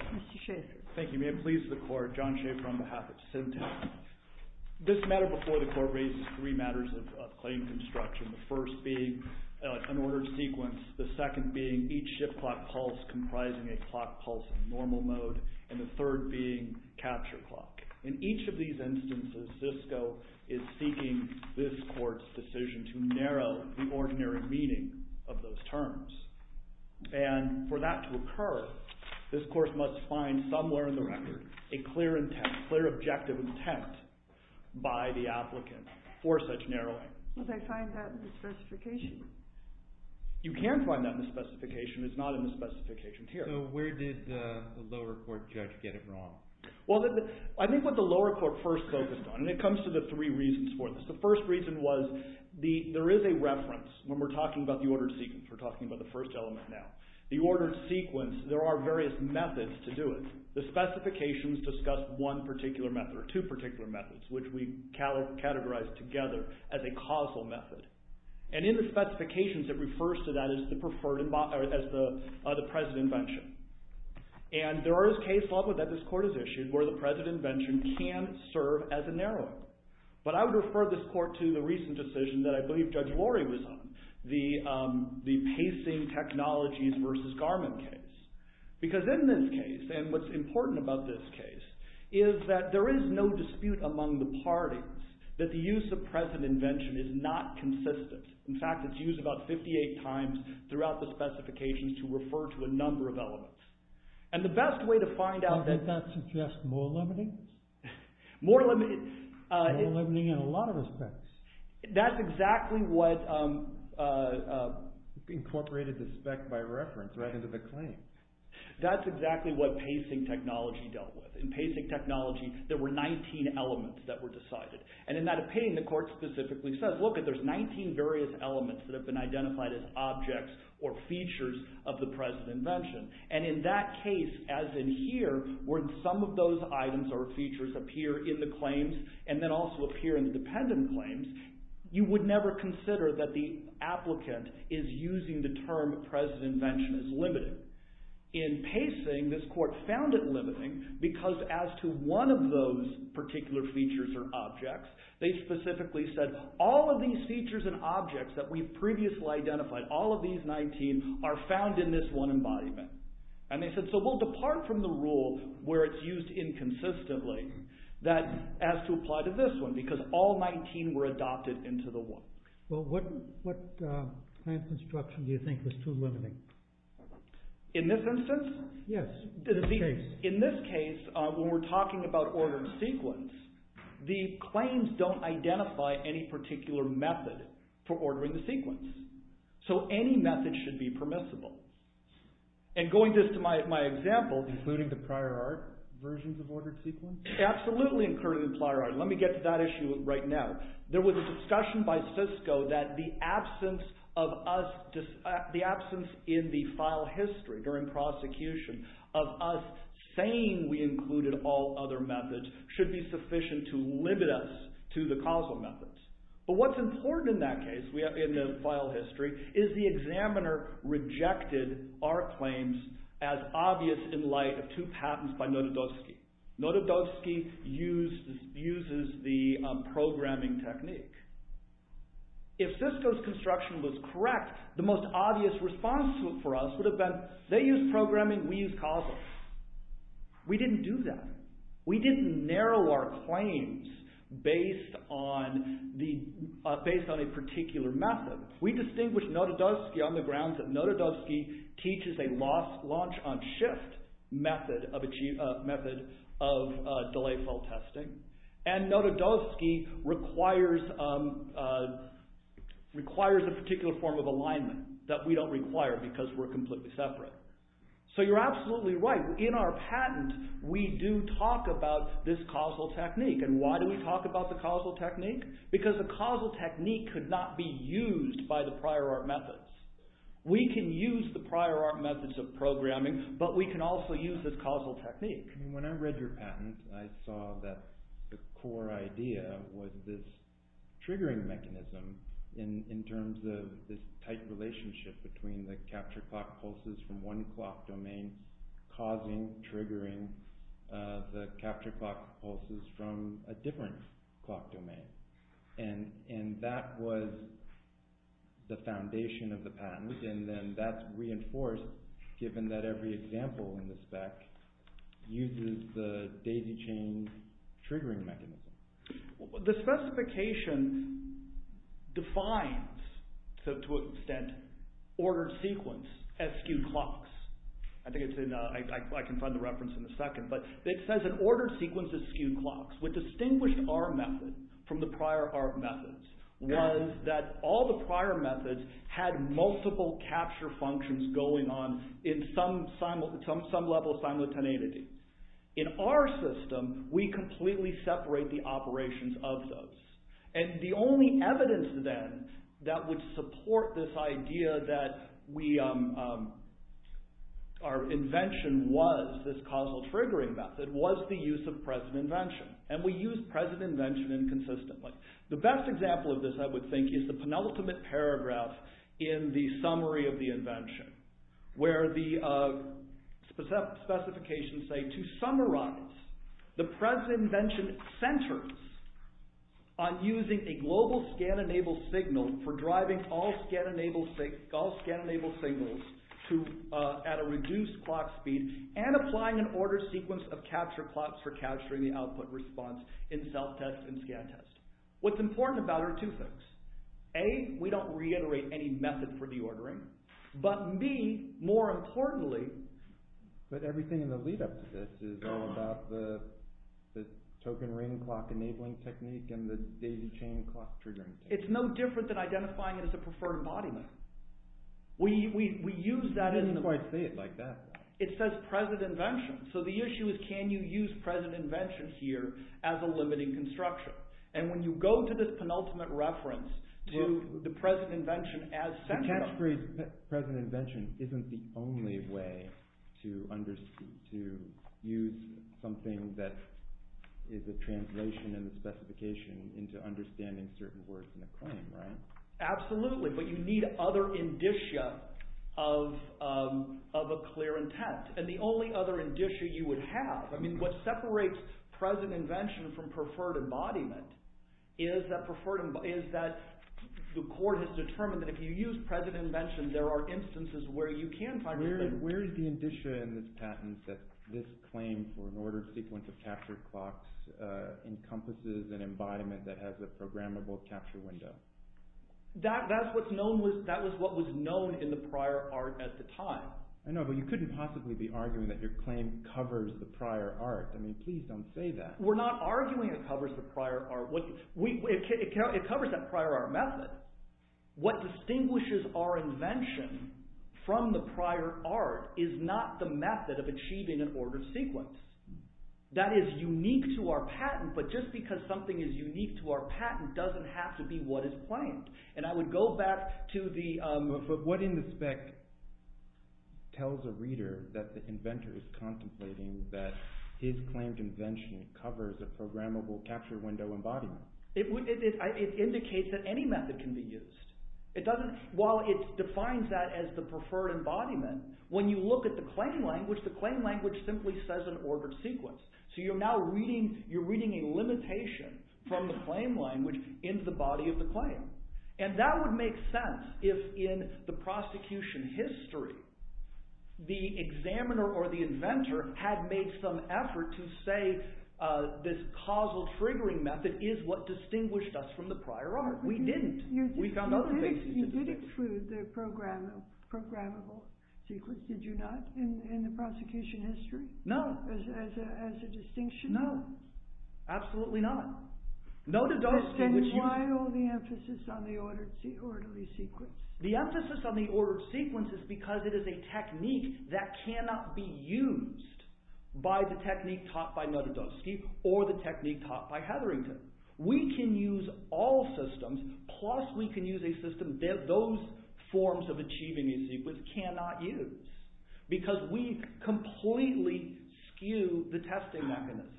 Mr. Schaefer. Thank you, ma'am. Please, the court. John Schaefer on behalf of Syntest. This matter before the court raises three matters of claim construction, the first being an ordered sequence, the second being each shift clock pulse comprising a clock pulse in normal mode, and the third being capture clock. In each of these instances, Cisco is seeking this court's decision to narrow the ordinary meaning of those terms. And for that to occur, this court must find somewhere in the record a clear intent, clear objective intent by the applicant for such narrowing. Will they find that in the specification? You can find that in the specification. It's not in the specification here. So where did the lower court judge get it wrong? Well, I think what the lower court first focused on, and it comes to the three reasons for this. The first reason was there is a reference when we're talking about the ordered sequence. We're talking about the first element now. The ordered sequence, there are various methods to do it. The specifications discuss one particular method or two particular methods, which we categorize together as a causal method. And in the specifications, it refers to that as the present invention. And there is case law that this court has issued where the present invention can serve as a narrowing. But I would refer this court to the recent decision that I believe Judge Lori was on, the pacing technologies versus Garmin case. Because in this case, and what's important about this case, is that there is no dispute among the parties that the use of present invention is not consistent. In fact, it's used about 58 times throughout the specifications to refer to a number of elements. And the best way to find out that... Did that suggest more limiting? More limiting... More limiting in a lot of respects. That's exactly what... Incorporated the spec by reference right into the claim. That's exactly what pacing technology dealt with. In pacing technology, there were 19 elements that were decided. And in that opinion, the court specifically says, look, there's 19 various elements that have been identified as objects or features of the present invention. And in that case, as in here, where some of those items or features appear in the claims, and then also appear in the dependent claims, you would never consider that the applicant is using the term present invention as limiting. In pacing, this court found it limiting because as to one of those particular features or objects, they specifically said, all of these features and objects that we've previously identified, all of these 19, are found in this one embodiment. And they said, so we'll depart from the rule where it's used inconsistently as to apply to this one, because all 19 were adopted into the one. Well, what kind of construction do you think was too limiting? In this instance? Yes. In this case, when we're talking about ordered sequence, the claims don't identify any particular method for ordering the sequence. So any method should be permissible. And going just to my example... Including the prior art versions of ordered sequence? Absolutely, including the prior art. Let me get to that issue right now. There was a discussion by Cisco that the absence of us, the absence in the file history during prosecution of us saying we included all other methods should be sufficient to limit us to the causal methods. But what's important in that case, in the file history, is the examiner rejected our claims as obvious in light of two patents by Norodowski. Norodowski uses the programming technique. If Cisco's construction was correct, the most obvious response for us would have been they use programming, we use causal. We didn't do that. We didn't narrow our claims based on a particular method. We distinguished Norodowski on the grounds that Norodowski teaches a launch on shift method of delay fault testing. And Norodowski requires a particular form of alignment that we don't require because we're completely separate. So you're absolutely right. In our patent, we do talk about this causal technique. And why do we talk about the causal technique? Because the causal technique could not be the prior art methods of programming, but we can also use this causal technique. When I read your patent, I saw that the core idea was this triggering mechanism in terms of this tight relationship between the capture clock pulses from one clock domain causing triggering the capture clock pulses from a different clock domain. And that was the foundation of the patent. And then that's reinforced given that every example in the spec uses the daisy chain triggering mechanism. The specification defines, to an extent, ordered sequence as skewed clocks. I can find the reference in a second. But it says an ordered sequence is skewed clocks. What distinguished our method from the prior art methods was that all the prior methods had multiple capture functions going on in some level of simultaneity. In our system, we completely separate the operations of those. And the only evidence then that would support this idea that our invention was this causal triggering method was the use of present invention. And we use present invention inconsistently. The best example of this, I would think, is the penultimate paragraph in the summary of the invention where the specifications say, to summarize, the present invention centers on using a global scan-enabled signal for driving all scan-enabled signals at a reduced clock speed and applying an ordered sequence of capture clocks for capturing the output response in self-test and scan-test. What's important about it are two things. A, we don't reiterate any method for deordering. But B, more importantly... But everything in the lead-up to this is all about the token ring clock enabling technique and the daisy chain clock triggering technique. It's no different than identifying it as a preferred embodiment. We use that in the... You didn't quite say it like that, though. It says present invention. So the issue is, can you use present invention here as a limiting construction? And when you go to this penultimate reference to the present invention as central... The text reads, present invention isn't the only way to use something that is a translation and a specification into understanding certain words in a claim, right? Absolutely. But you need other indicia of a clear intent. And the only other indicia you would have... I mean, what separates present invention from preferred embodiment is that the court has determined that if you use present invention, there are instances where you can find... Where is the indicia in this patent that this claim for an ordered sequence of capture clocks encompasses an embodiment that has a programmable capture window? That's what was known in the prior art at the time. I know, but you couldn't possibly be arguing that your claim covers the prior art. I mean, please don't say that. We're not arguing it covers the prior art. It covers that prior art method. What distinguishes our invention from the prior art is not the method of achieving an ordered sequence. That is unique to our patent, but just because something is unique to our patent doesn't have to be what is claimed. And I would go back to the... But what in the spec tells a reader that the inventor is contemplating that his claimed invention covers a programmable capture window embodiment? It indicates that any method can be used. It doesn't... While it defines that as the preferred embodiment, when you look at the claim language, the claim language simply says an ordered sequence. So you're now reading a limitation from the claim language into the body of the claim. And that would make sense if, in the prosecution history, the examiner or the inventor had made some effort to say this causal triggering method is what distinguished us from the prior art. We didn't. We found other things to distinguish. You didn't include the programmable sequence, did you not, in the prosecution history? No. As a distinction? No. Absolutely not. Notodosky... Then why all the emphasis on the ordered sequence? The emphasis on the ordered sequence is because it is a technique that cannot be used by the technique taught by Notodosky or the technique taught by Hetherington. We can use all systems plus we can use a system that those forms of achieving a sequence cannot use because we completely skew the testing mechanisms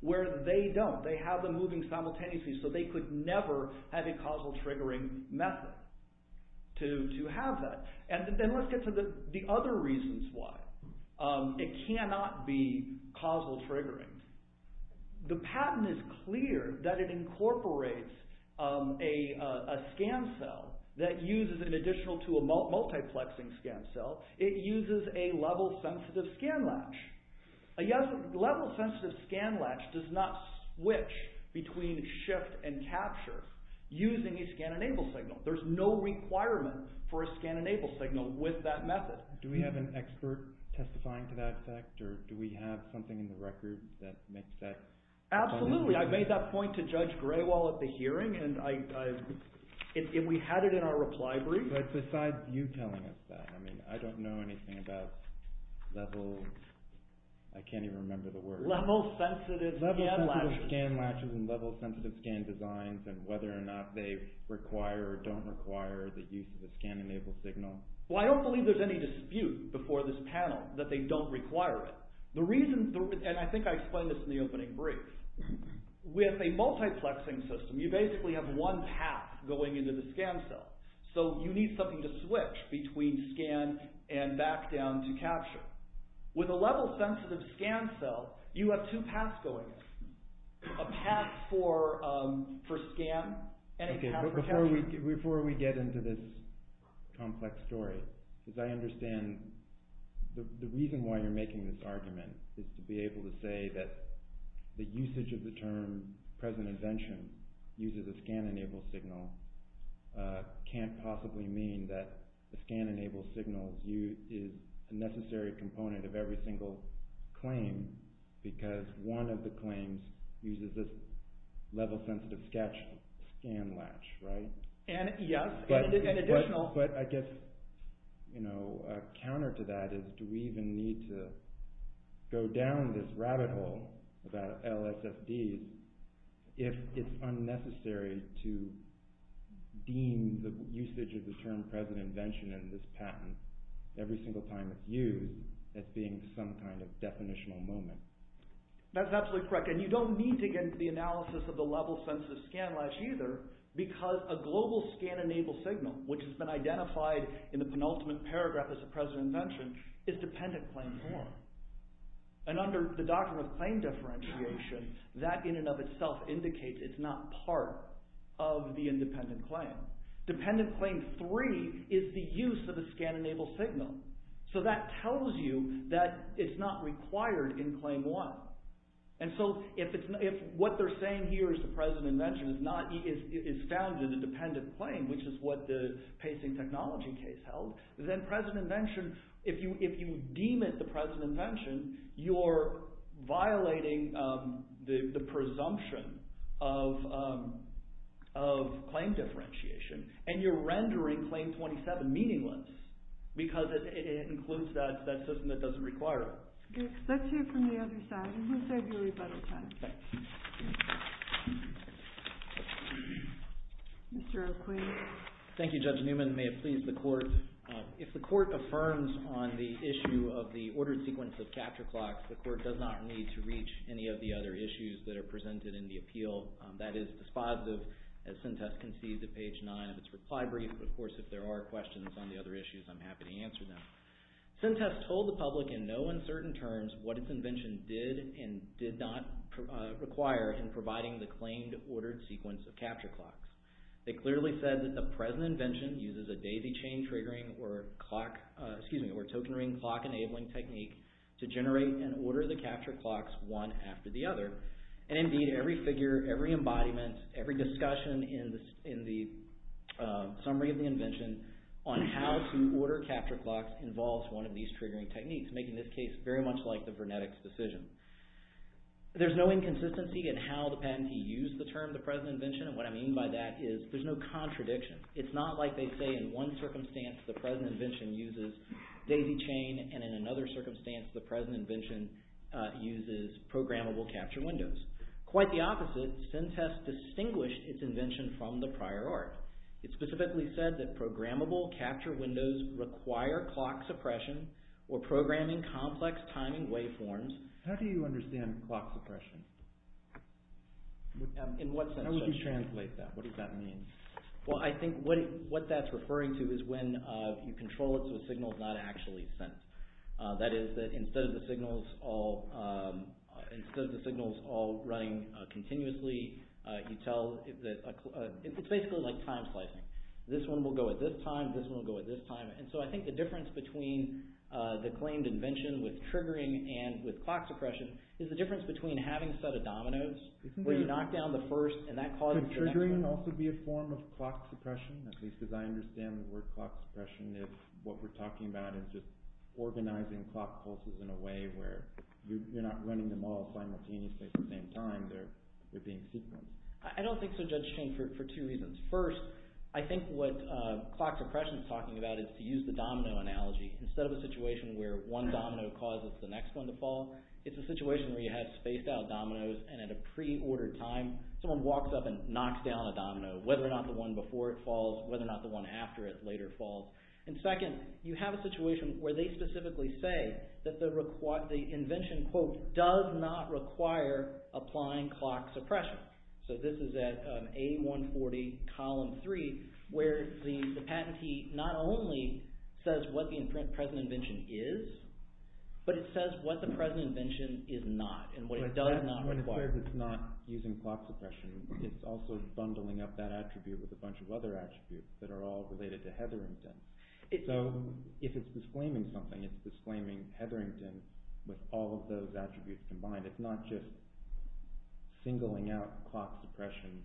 where they don't. They have them moving simultaneously so they could never have a causal triggering method to have that. And then let's get to the other reasons why it cannot be causal triggering. The patent is clear that it incorporates a scan cell that uses an additional to a multiplexing scan cell. It uses a level-sensitive scan latch. A level-sensitive scan latch does not switch between shift and capture using a scan-enable signal. There's no requirement for a scan-enable signal with that method. Do we have an expert testifying to that effect or do we have something in the record that makes that... Absolutely. I made that point to Judge Graywell at the hearing and we had it in our reply brief. But besides you telling us that, I don't know anything about level... I can't even remember the word. Level-sensitive scan latches. Level-sensitive scan latches and level-sensitive scan designs and whether or not they require or don't require the use of a scan-enable signal. Well, I don't believe there's any dispute before this panel that they don't require it. And I think I explained this in the opening brief. With a multiplexing system, you basically have one path going into the scan cell. So you need something to switch between scan and back down to capture. With a level-sensitive scan cell, you have two paths going in. A path for scan and a path for capture. Before we get into this complex story, I understand the reason why you're making this argument is to be able to say that the usage of the term present invention uses a scan-enable signal can't possibly mean that the scan-enable signal is a necessary component of every single claim because one of the claims uses this level-sensitive scan latch, right? Yes, and an additional... But I guess a counter to that is do we even need to go down this rabbit hole about LSFDs if it's unnecessary to deem the usage of the term present invention in this patent every some kind of definitional moment? That's absolutely correct. And you don't need to get into the analysis of the level-sensitive scan latch either because a global scan-enable signal, which has been identified in the penultimate paragraph as a present invention, is dependent claim form. And under the doctrine of claim differentiation, that in and of itself indicates it's not part of the independent claim. Dependent claim three is the use of the scan-enable signal. So that tells you that it's not required in claim one. And so if what they're saying here is the present invention is found in a dependent claim, which is what the pacing technology case held, then present invention, if you deem it the present invention, you're violating the presumption of claim differentiation and you're rendering claim 27 meaningless because it includes that system that doesn't require it. Let's hear from the other side, and we'll save you a rebuttal time. Mr. O'Queen. Thank you, Judge Newman. May it please the Court. If the Court affirms on the issue of the ordered sequence of capture clocks, the Court does not need to reach any of the other that is dispositive, as Sintest concedes at page nine of its reply brief. Of course, if there are questions on the other issues, I'm happy to answer them. Sintest told the public in no uncertain terms what its invention did and did not require in providing the claimed ordered sequence of capture clocks. They clearly said that the present invention uses a daisy chain triggering or clock, excuse me, or token ring clock enabling technique to generate and order the capture clocks one after the other. Indeed, every figure, every embodiment, every discussion in the summary of the invention on how to order capture clocks involves one of these triggering techniques, making this case very much like the Vernetics decision. There's no inconsistency in how the patentee used the term the present invention, and what I mean by that is there's no contradiction. It's not like they say in one circumstance the present invention uses daisy chain, and in another circumstance the present invention uses programmable capture windows. Quite the opposite, Sintest distinguished its invention from the prior art. It specifically said that programmable capture windows require clock suppression or programming complex timing waveforms. How do you understand clock suppression? In what sense should I? How would you translate that? What does that mean? Well, I think what that's referring to is when you control it so the signal's not actually sent. That is that instead of the signals all running continuously, you tell, it's basically like time slicing. This one will go at this time, this one will go at this time, and so I think the difference between the claimed invention with triggering and with clock suppression is the difference between having a set of dominoes where you knock down the first and that causes the next one. Could triggering also be a form of clock suppression? At least as I understand the word clock suppression if what we're talking about is just organizing clock pulses in a way where you're not running them all simultaneously at the same time, they're being sequenced. I don't think so, Judge King, for two reasons. First, I think what clock suppression is talking about is to use the domino analogy. Instead of a situation where one domino causes the next one to fall, it's a situation where you have spaced out dominoes and at a pre-ordered time someone walks up and knocks down a domino, whether or not the one before it falls, whether or not the one after it later falls. Second, you have a situation where they specifically say that the invention, quote, does not require applying clock suppression. This is at A140 column three where the patentee not only says what the present invention is, but it says what the present invention is not and what it does not require. As long as it's not using clock suppression, it's also bundling up that attribute with a bunch of other attributes that are all related to Hetherington. If it's disclaiming something, it's disclaiming Hetherington with all of those attributes combined. It's not just singling out clock suppression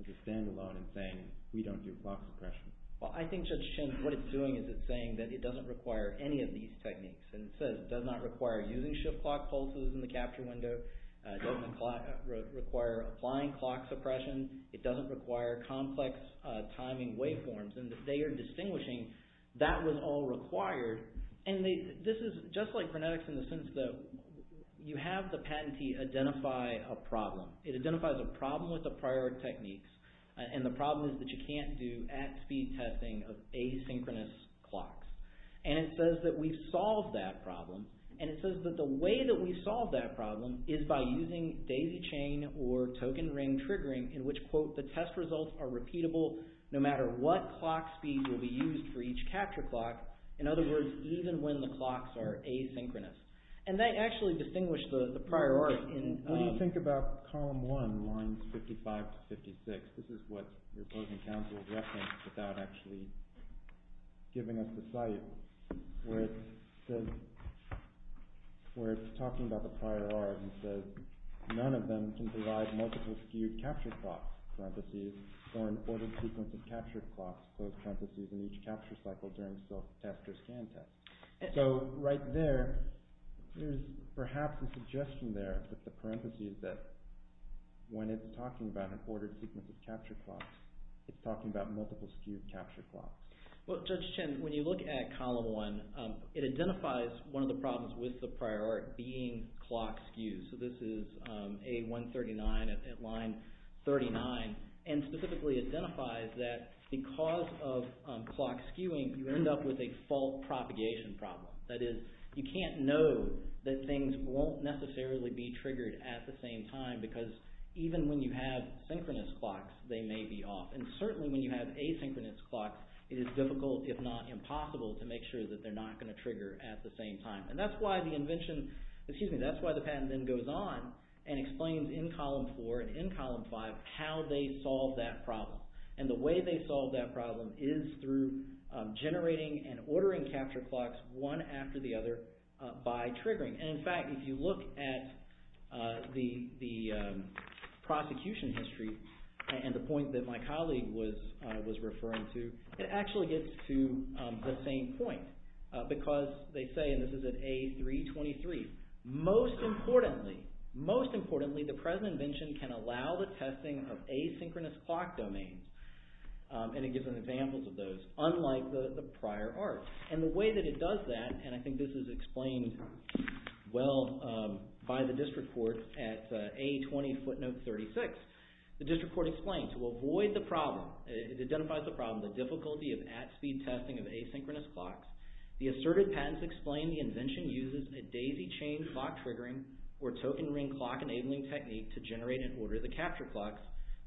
as a standalone and saying, we don't do clock suppression. Well, I think, Judge Shins, what it's doing is it's saying that it doesn't require any of these techniques. It says it does not require using shift clock pulses in the capture window, it doesn't require applying clock suppression, it doesn't require complex timing waveforms. They are distinguishing that was all required. This is just like frenetics in the sense that you have the patentee identify a problem. It identifies a problem with the prior techniques and the problem is that you can't do at-speed testing of asynchronous clocks. It says that we've solved that problem and it says that the way that we've solved that problem is by using daisy chain or token ring triggering in which, quote, the test results are repeatable no matter what clock speed will be used for each capture clock. In other words, even when the clocks are asynchronous. They actually distinguish the priority. What do you think about column one, lines 55 to 56? This is what your opposing counsel reference without actually giving us the site. Where it's talking about the prior art and says none of them can provide multiple skewed capture clocks, parentheses, or an ordered sequence of capture clocks, close parentheses, in each capture cycle during self-test or scan test. So, right there, there's perhaps a suggestion there with the parentheses that when it's talking about an ordered sequence of capture clocks, it's talking about multiple skewed capture clocks. Well, Judge Chen, when you look at column one, it identifies one of the problems with the prior art being clock skews. So, this is A139 at line 39 and specifically identifies that because of clock skewing, you end up with a fault propagation problem. That is, you can't know that things won't necessarily be triggered at the same time because even when you have synchronous clocks, they may be off. And certainly when you have asynchronous clocks, it is difficult, if not impossible, to make sure that they're not going to trigger at the same time. And that's why the invention, excuse me, that's why the patent then goes on and explains in column four and in column five how they solve that problem. And the way they solve that problem is through generating and ordering capture clocks one after the other by triggering. And in fact, if you look at the prosecution history and the point that my colleague was referring to, it actually gets to the same point because they say, and this is at A323, most importantly, most importantly, the present invention can allow the testing of asynchronous clock domains. And it gives an example of those, unlike the prior art. And the way that it does that, and I think this is explained well by the district court at A20 footnote 36, the district court explained, to avoid the problem, it identifies the problem, the difficulty of at speed testing of asynchronous clocks. The asserted patents explain the invention uses a daisy chain clock triggering or token ring clock enabling technique to generate and order the capture clocks.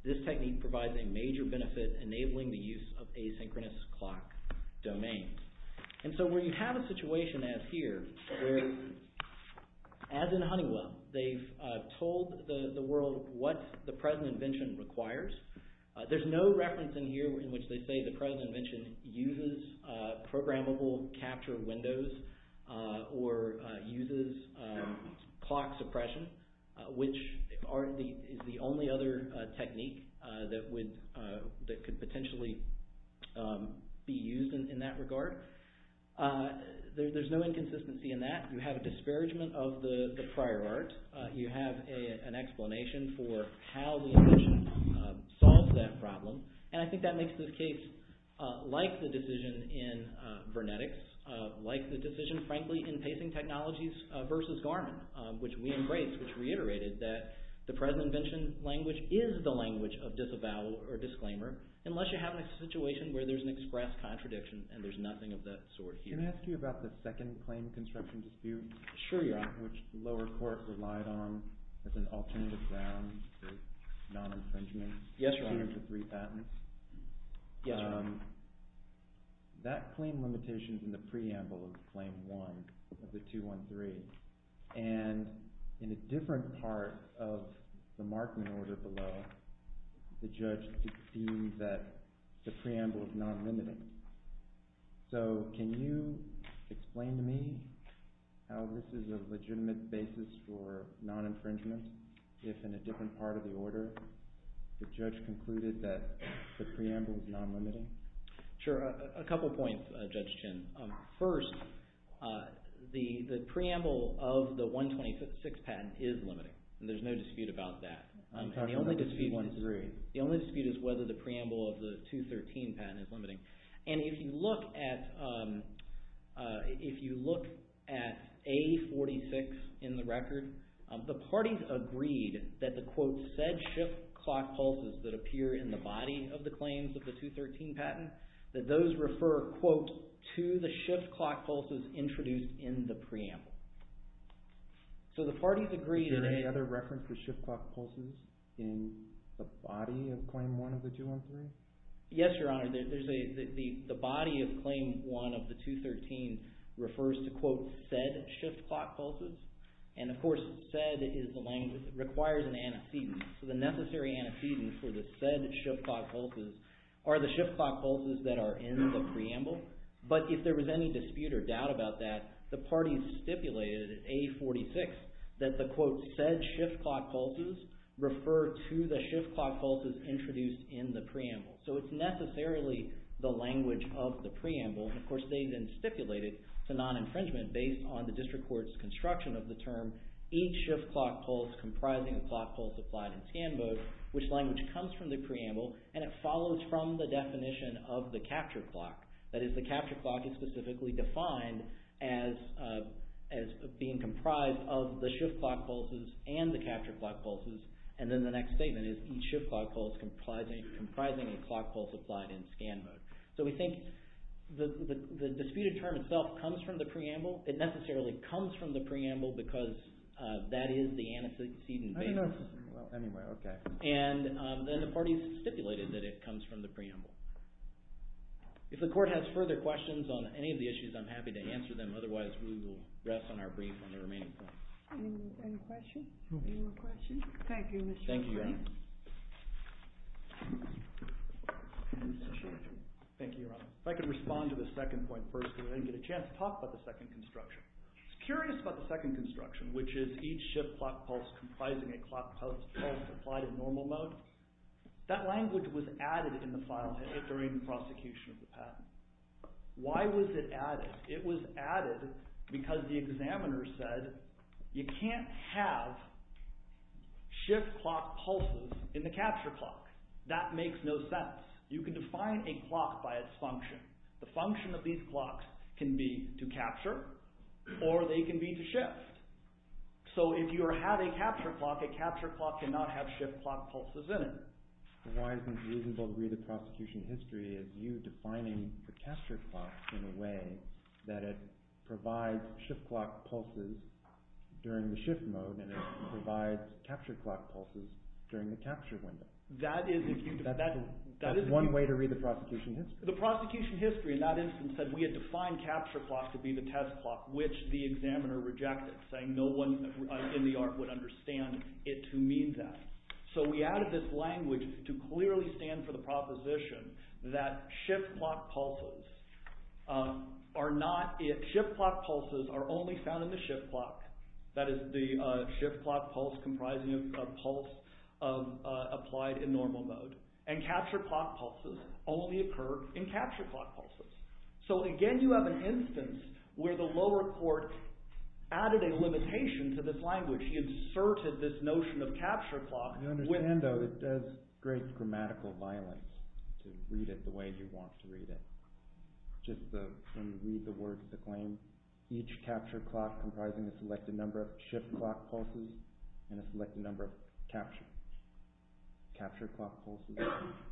This technique provides a major benefit enabling the use of asynchronous clock domains. And so where you have a situation as here, where as in Honeywell, they've told the world what the present invention requires. There's no reference in here in which they say the present invention uses programmable capture windows or uses clock suppression, which is the only other technique that could potentially be used in that regard. There's no inconsistency in that. You have a disparagement of the prior art. You have an explanation for how the invention solves that problem. And I think that makes this case like the decision in Vernetics, like the decision, frankly, in pacing technologies versus Garmin, which we embrace, which reiterated that the present invention language is the language of disavow or disclaimer, unless you have a situation where there's an express contradiction and there's nothing of that sort here. Can I ask you about the second claim construction dispute? Sure, you're on. Which the lower court relied on as an alternative ground for non-infringement. Yes, you're on. Including the three patents. Yes, you're on. That claim limitation is in the preamble of claim one of the 213. And in a different part of the marking order below, the judge deemed that the preamble was non-limiting. So can you explain to me how this is a legitimate basis for non-infringement, if in a different part of the order, the judge concluded that the preamble was non-limiting? Sure, a couple points, Judge Chin. First, the preamble of the 126 patent is limiting. There's no dispute about that. You're talking about the 213. The only dispute is whether the preamble of the 213 patent is limiting. And if you look at A46 in the record, the parties agreed that the, quote, said shift clock pulses that appear in the body of the claims of the 213 patent, that those refer, quote, to the shift clock pulses introduced in the preamble. So the parties agreed that... Is there any other reference for shift clock pulses in the body of claim one of the 213? Yes, Your Honor. The body of claim one of the 213 refers to, quote, said shift clock pulses. And, of course, said is the language that requires an antecedent. So the necessary antecedents for the said shift clock pulses are the shift clock pulses that are in the preamble. But if there was any dispute or doubt about that, the parties stipulated in A46 that the, quote, said shift clock pulses refer to the shift clock pulses introduced in the preamble. So it's necessarily the language of the preamble. Of course, they then stipulated to non-infringement based on the district court's construction of the term, each shift clock pulse comprising a clock pulse applied in scan mode, which language comes from the preamble, and it follows from the definition of the capture clock. That is, the capture clock is specifically defined as being comprised of the shift clock pulses and the capture clock pulses, and then the next statement is each shift clock pulse comprising a clock pulse applied in scan mode. So we think the disputed term itself comes from the preamble. It necessarily comes from the preamble because that is the antecedent basis. And then the parties stipulated that it comes from the preamble. If the court has further questions on any of the issues, I'm happy to answer them. Otherwise, we will rest on our brief on the remaining points. Any questions? Any more questions? Thank you, Mr. Chairman. Thank you, Your Honor. Mr. Chairman. Thank you, Your Honor. If I could respond to the second point first and then get a chance to talk about the second construction. I was curious about the second construction, which is each shift clock pulse comprising a clock pulse applied in normal mode. That language was added in the file during the prosecution of the patent. Why was it added? It was added because the examiners said you can't have shift clock pulses in the capture clock. That makes no sense. You can define a clock by its function. The function of these clocks can be to capture or they can be to shift. So if you have a capture clock, a capture clock cannot have shift clock pulses in it. Why isn't it reasonable to read the prosecution history as you defining the capture clock in a way that it provides shift clock pulses during the shift mode and it provides capture clock pulses during the capture window? That is one way to read the prosecution history. The prosecution history in that instance said we had defined capture clock to be the test clock, which the examiner rejected, saying no one in the art would understand it to mean that. So we added this language to clearly stand for the proposition that shift clock pulses are only found in the shift clock. That is the shift clock pulse comprising a pulse applied in normal mode. And capture clock pulses only occur in capture clock pulses. So again you have an instance where the lower court added a limitation to this language. He inserted this notion of capture clock. I understand though it does great grammatical violence to read it the way you want to read it. Just read the words that claim each capture clock comprising a selected number of shift clock pulses and a selected number of capture clock pulses.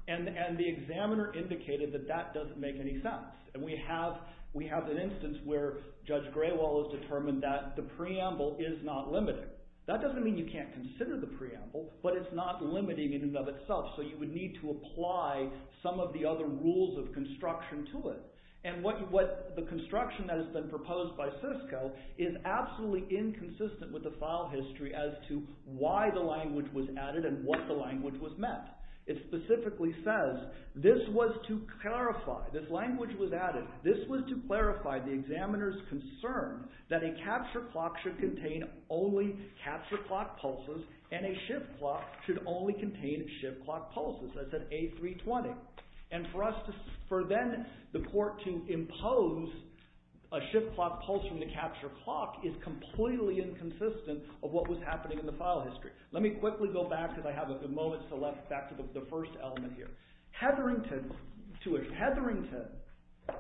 And the examiner indicated that that doesn't make any sense. And we have an instance where Judge Grewal has determined that the preamble is not limited. That doesn't mean you can't consider the preamble, but it's not limited in and of itself. So you would need to apply some of the other rules of construction to it. And what the construction that has been proposed by Cisco is absolutely inconsistent with the file history as to why the language was added and what the language was meant. It specifically says this was to clarify, this language was added, this was to clarify the examiner's concern that a capture clock should contain only capture clock pulses and a shift clock should only contain shift clock pulses. That's at A320. And for then the court to impose a shift clock pulse from the capture clock is completely inconsistent of what was happening in the file history. Let me quickly go back because I have a moment to go back to the first element here. Hetherington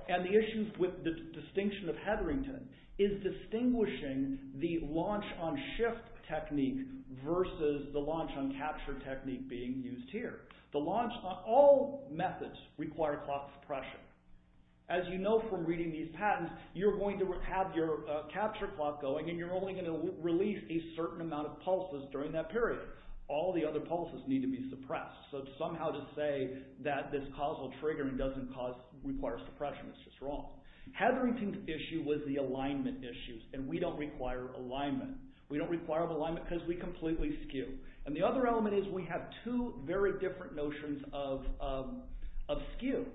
and the issues with the distinction of Hetherington is distinguishing the launch on shift technique versus the launch on capture technique being used here. The launch on all methods require clock suppression. As you know from reading these patents, you're going to have your capture clock going and you're only going to release a certain amount of that this cause will trigger and doesn't cause, require suppression. It's just wrong. Hetherington's issue was the alignment issues and we don't require alignment. We don't require alignment because we completely skew. And the other element is we have two very different notions of skew.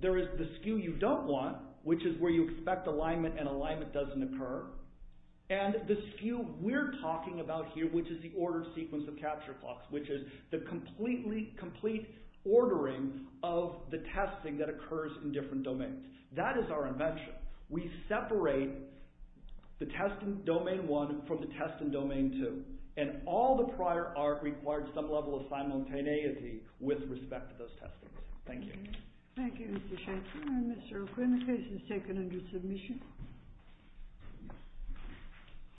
There is the skew you don't want, which is where you expect alignment and alignment doesn't occur. And the skew we're talking about here, which is the order sequence of capture clocks, which is the complete ordering of the testing that occurs in different domains. That is our invention. We separate the test in domain one from the test in domain two. And all the prior art required some level of simultaneity with respect to those testings. Thank you. Thank you, Mr. Shatner. Mr. O'Quinn, the case is taken under submission.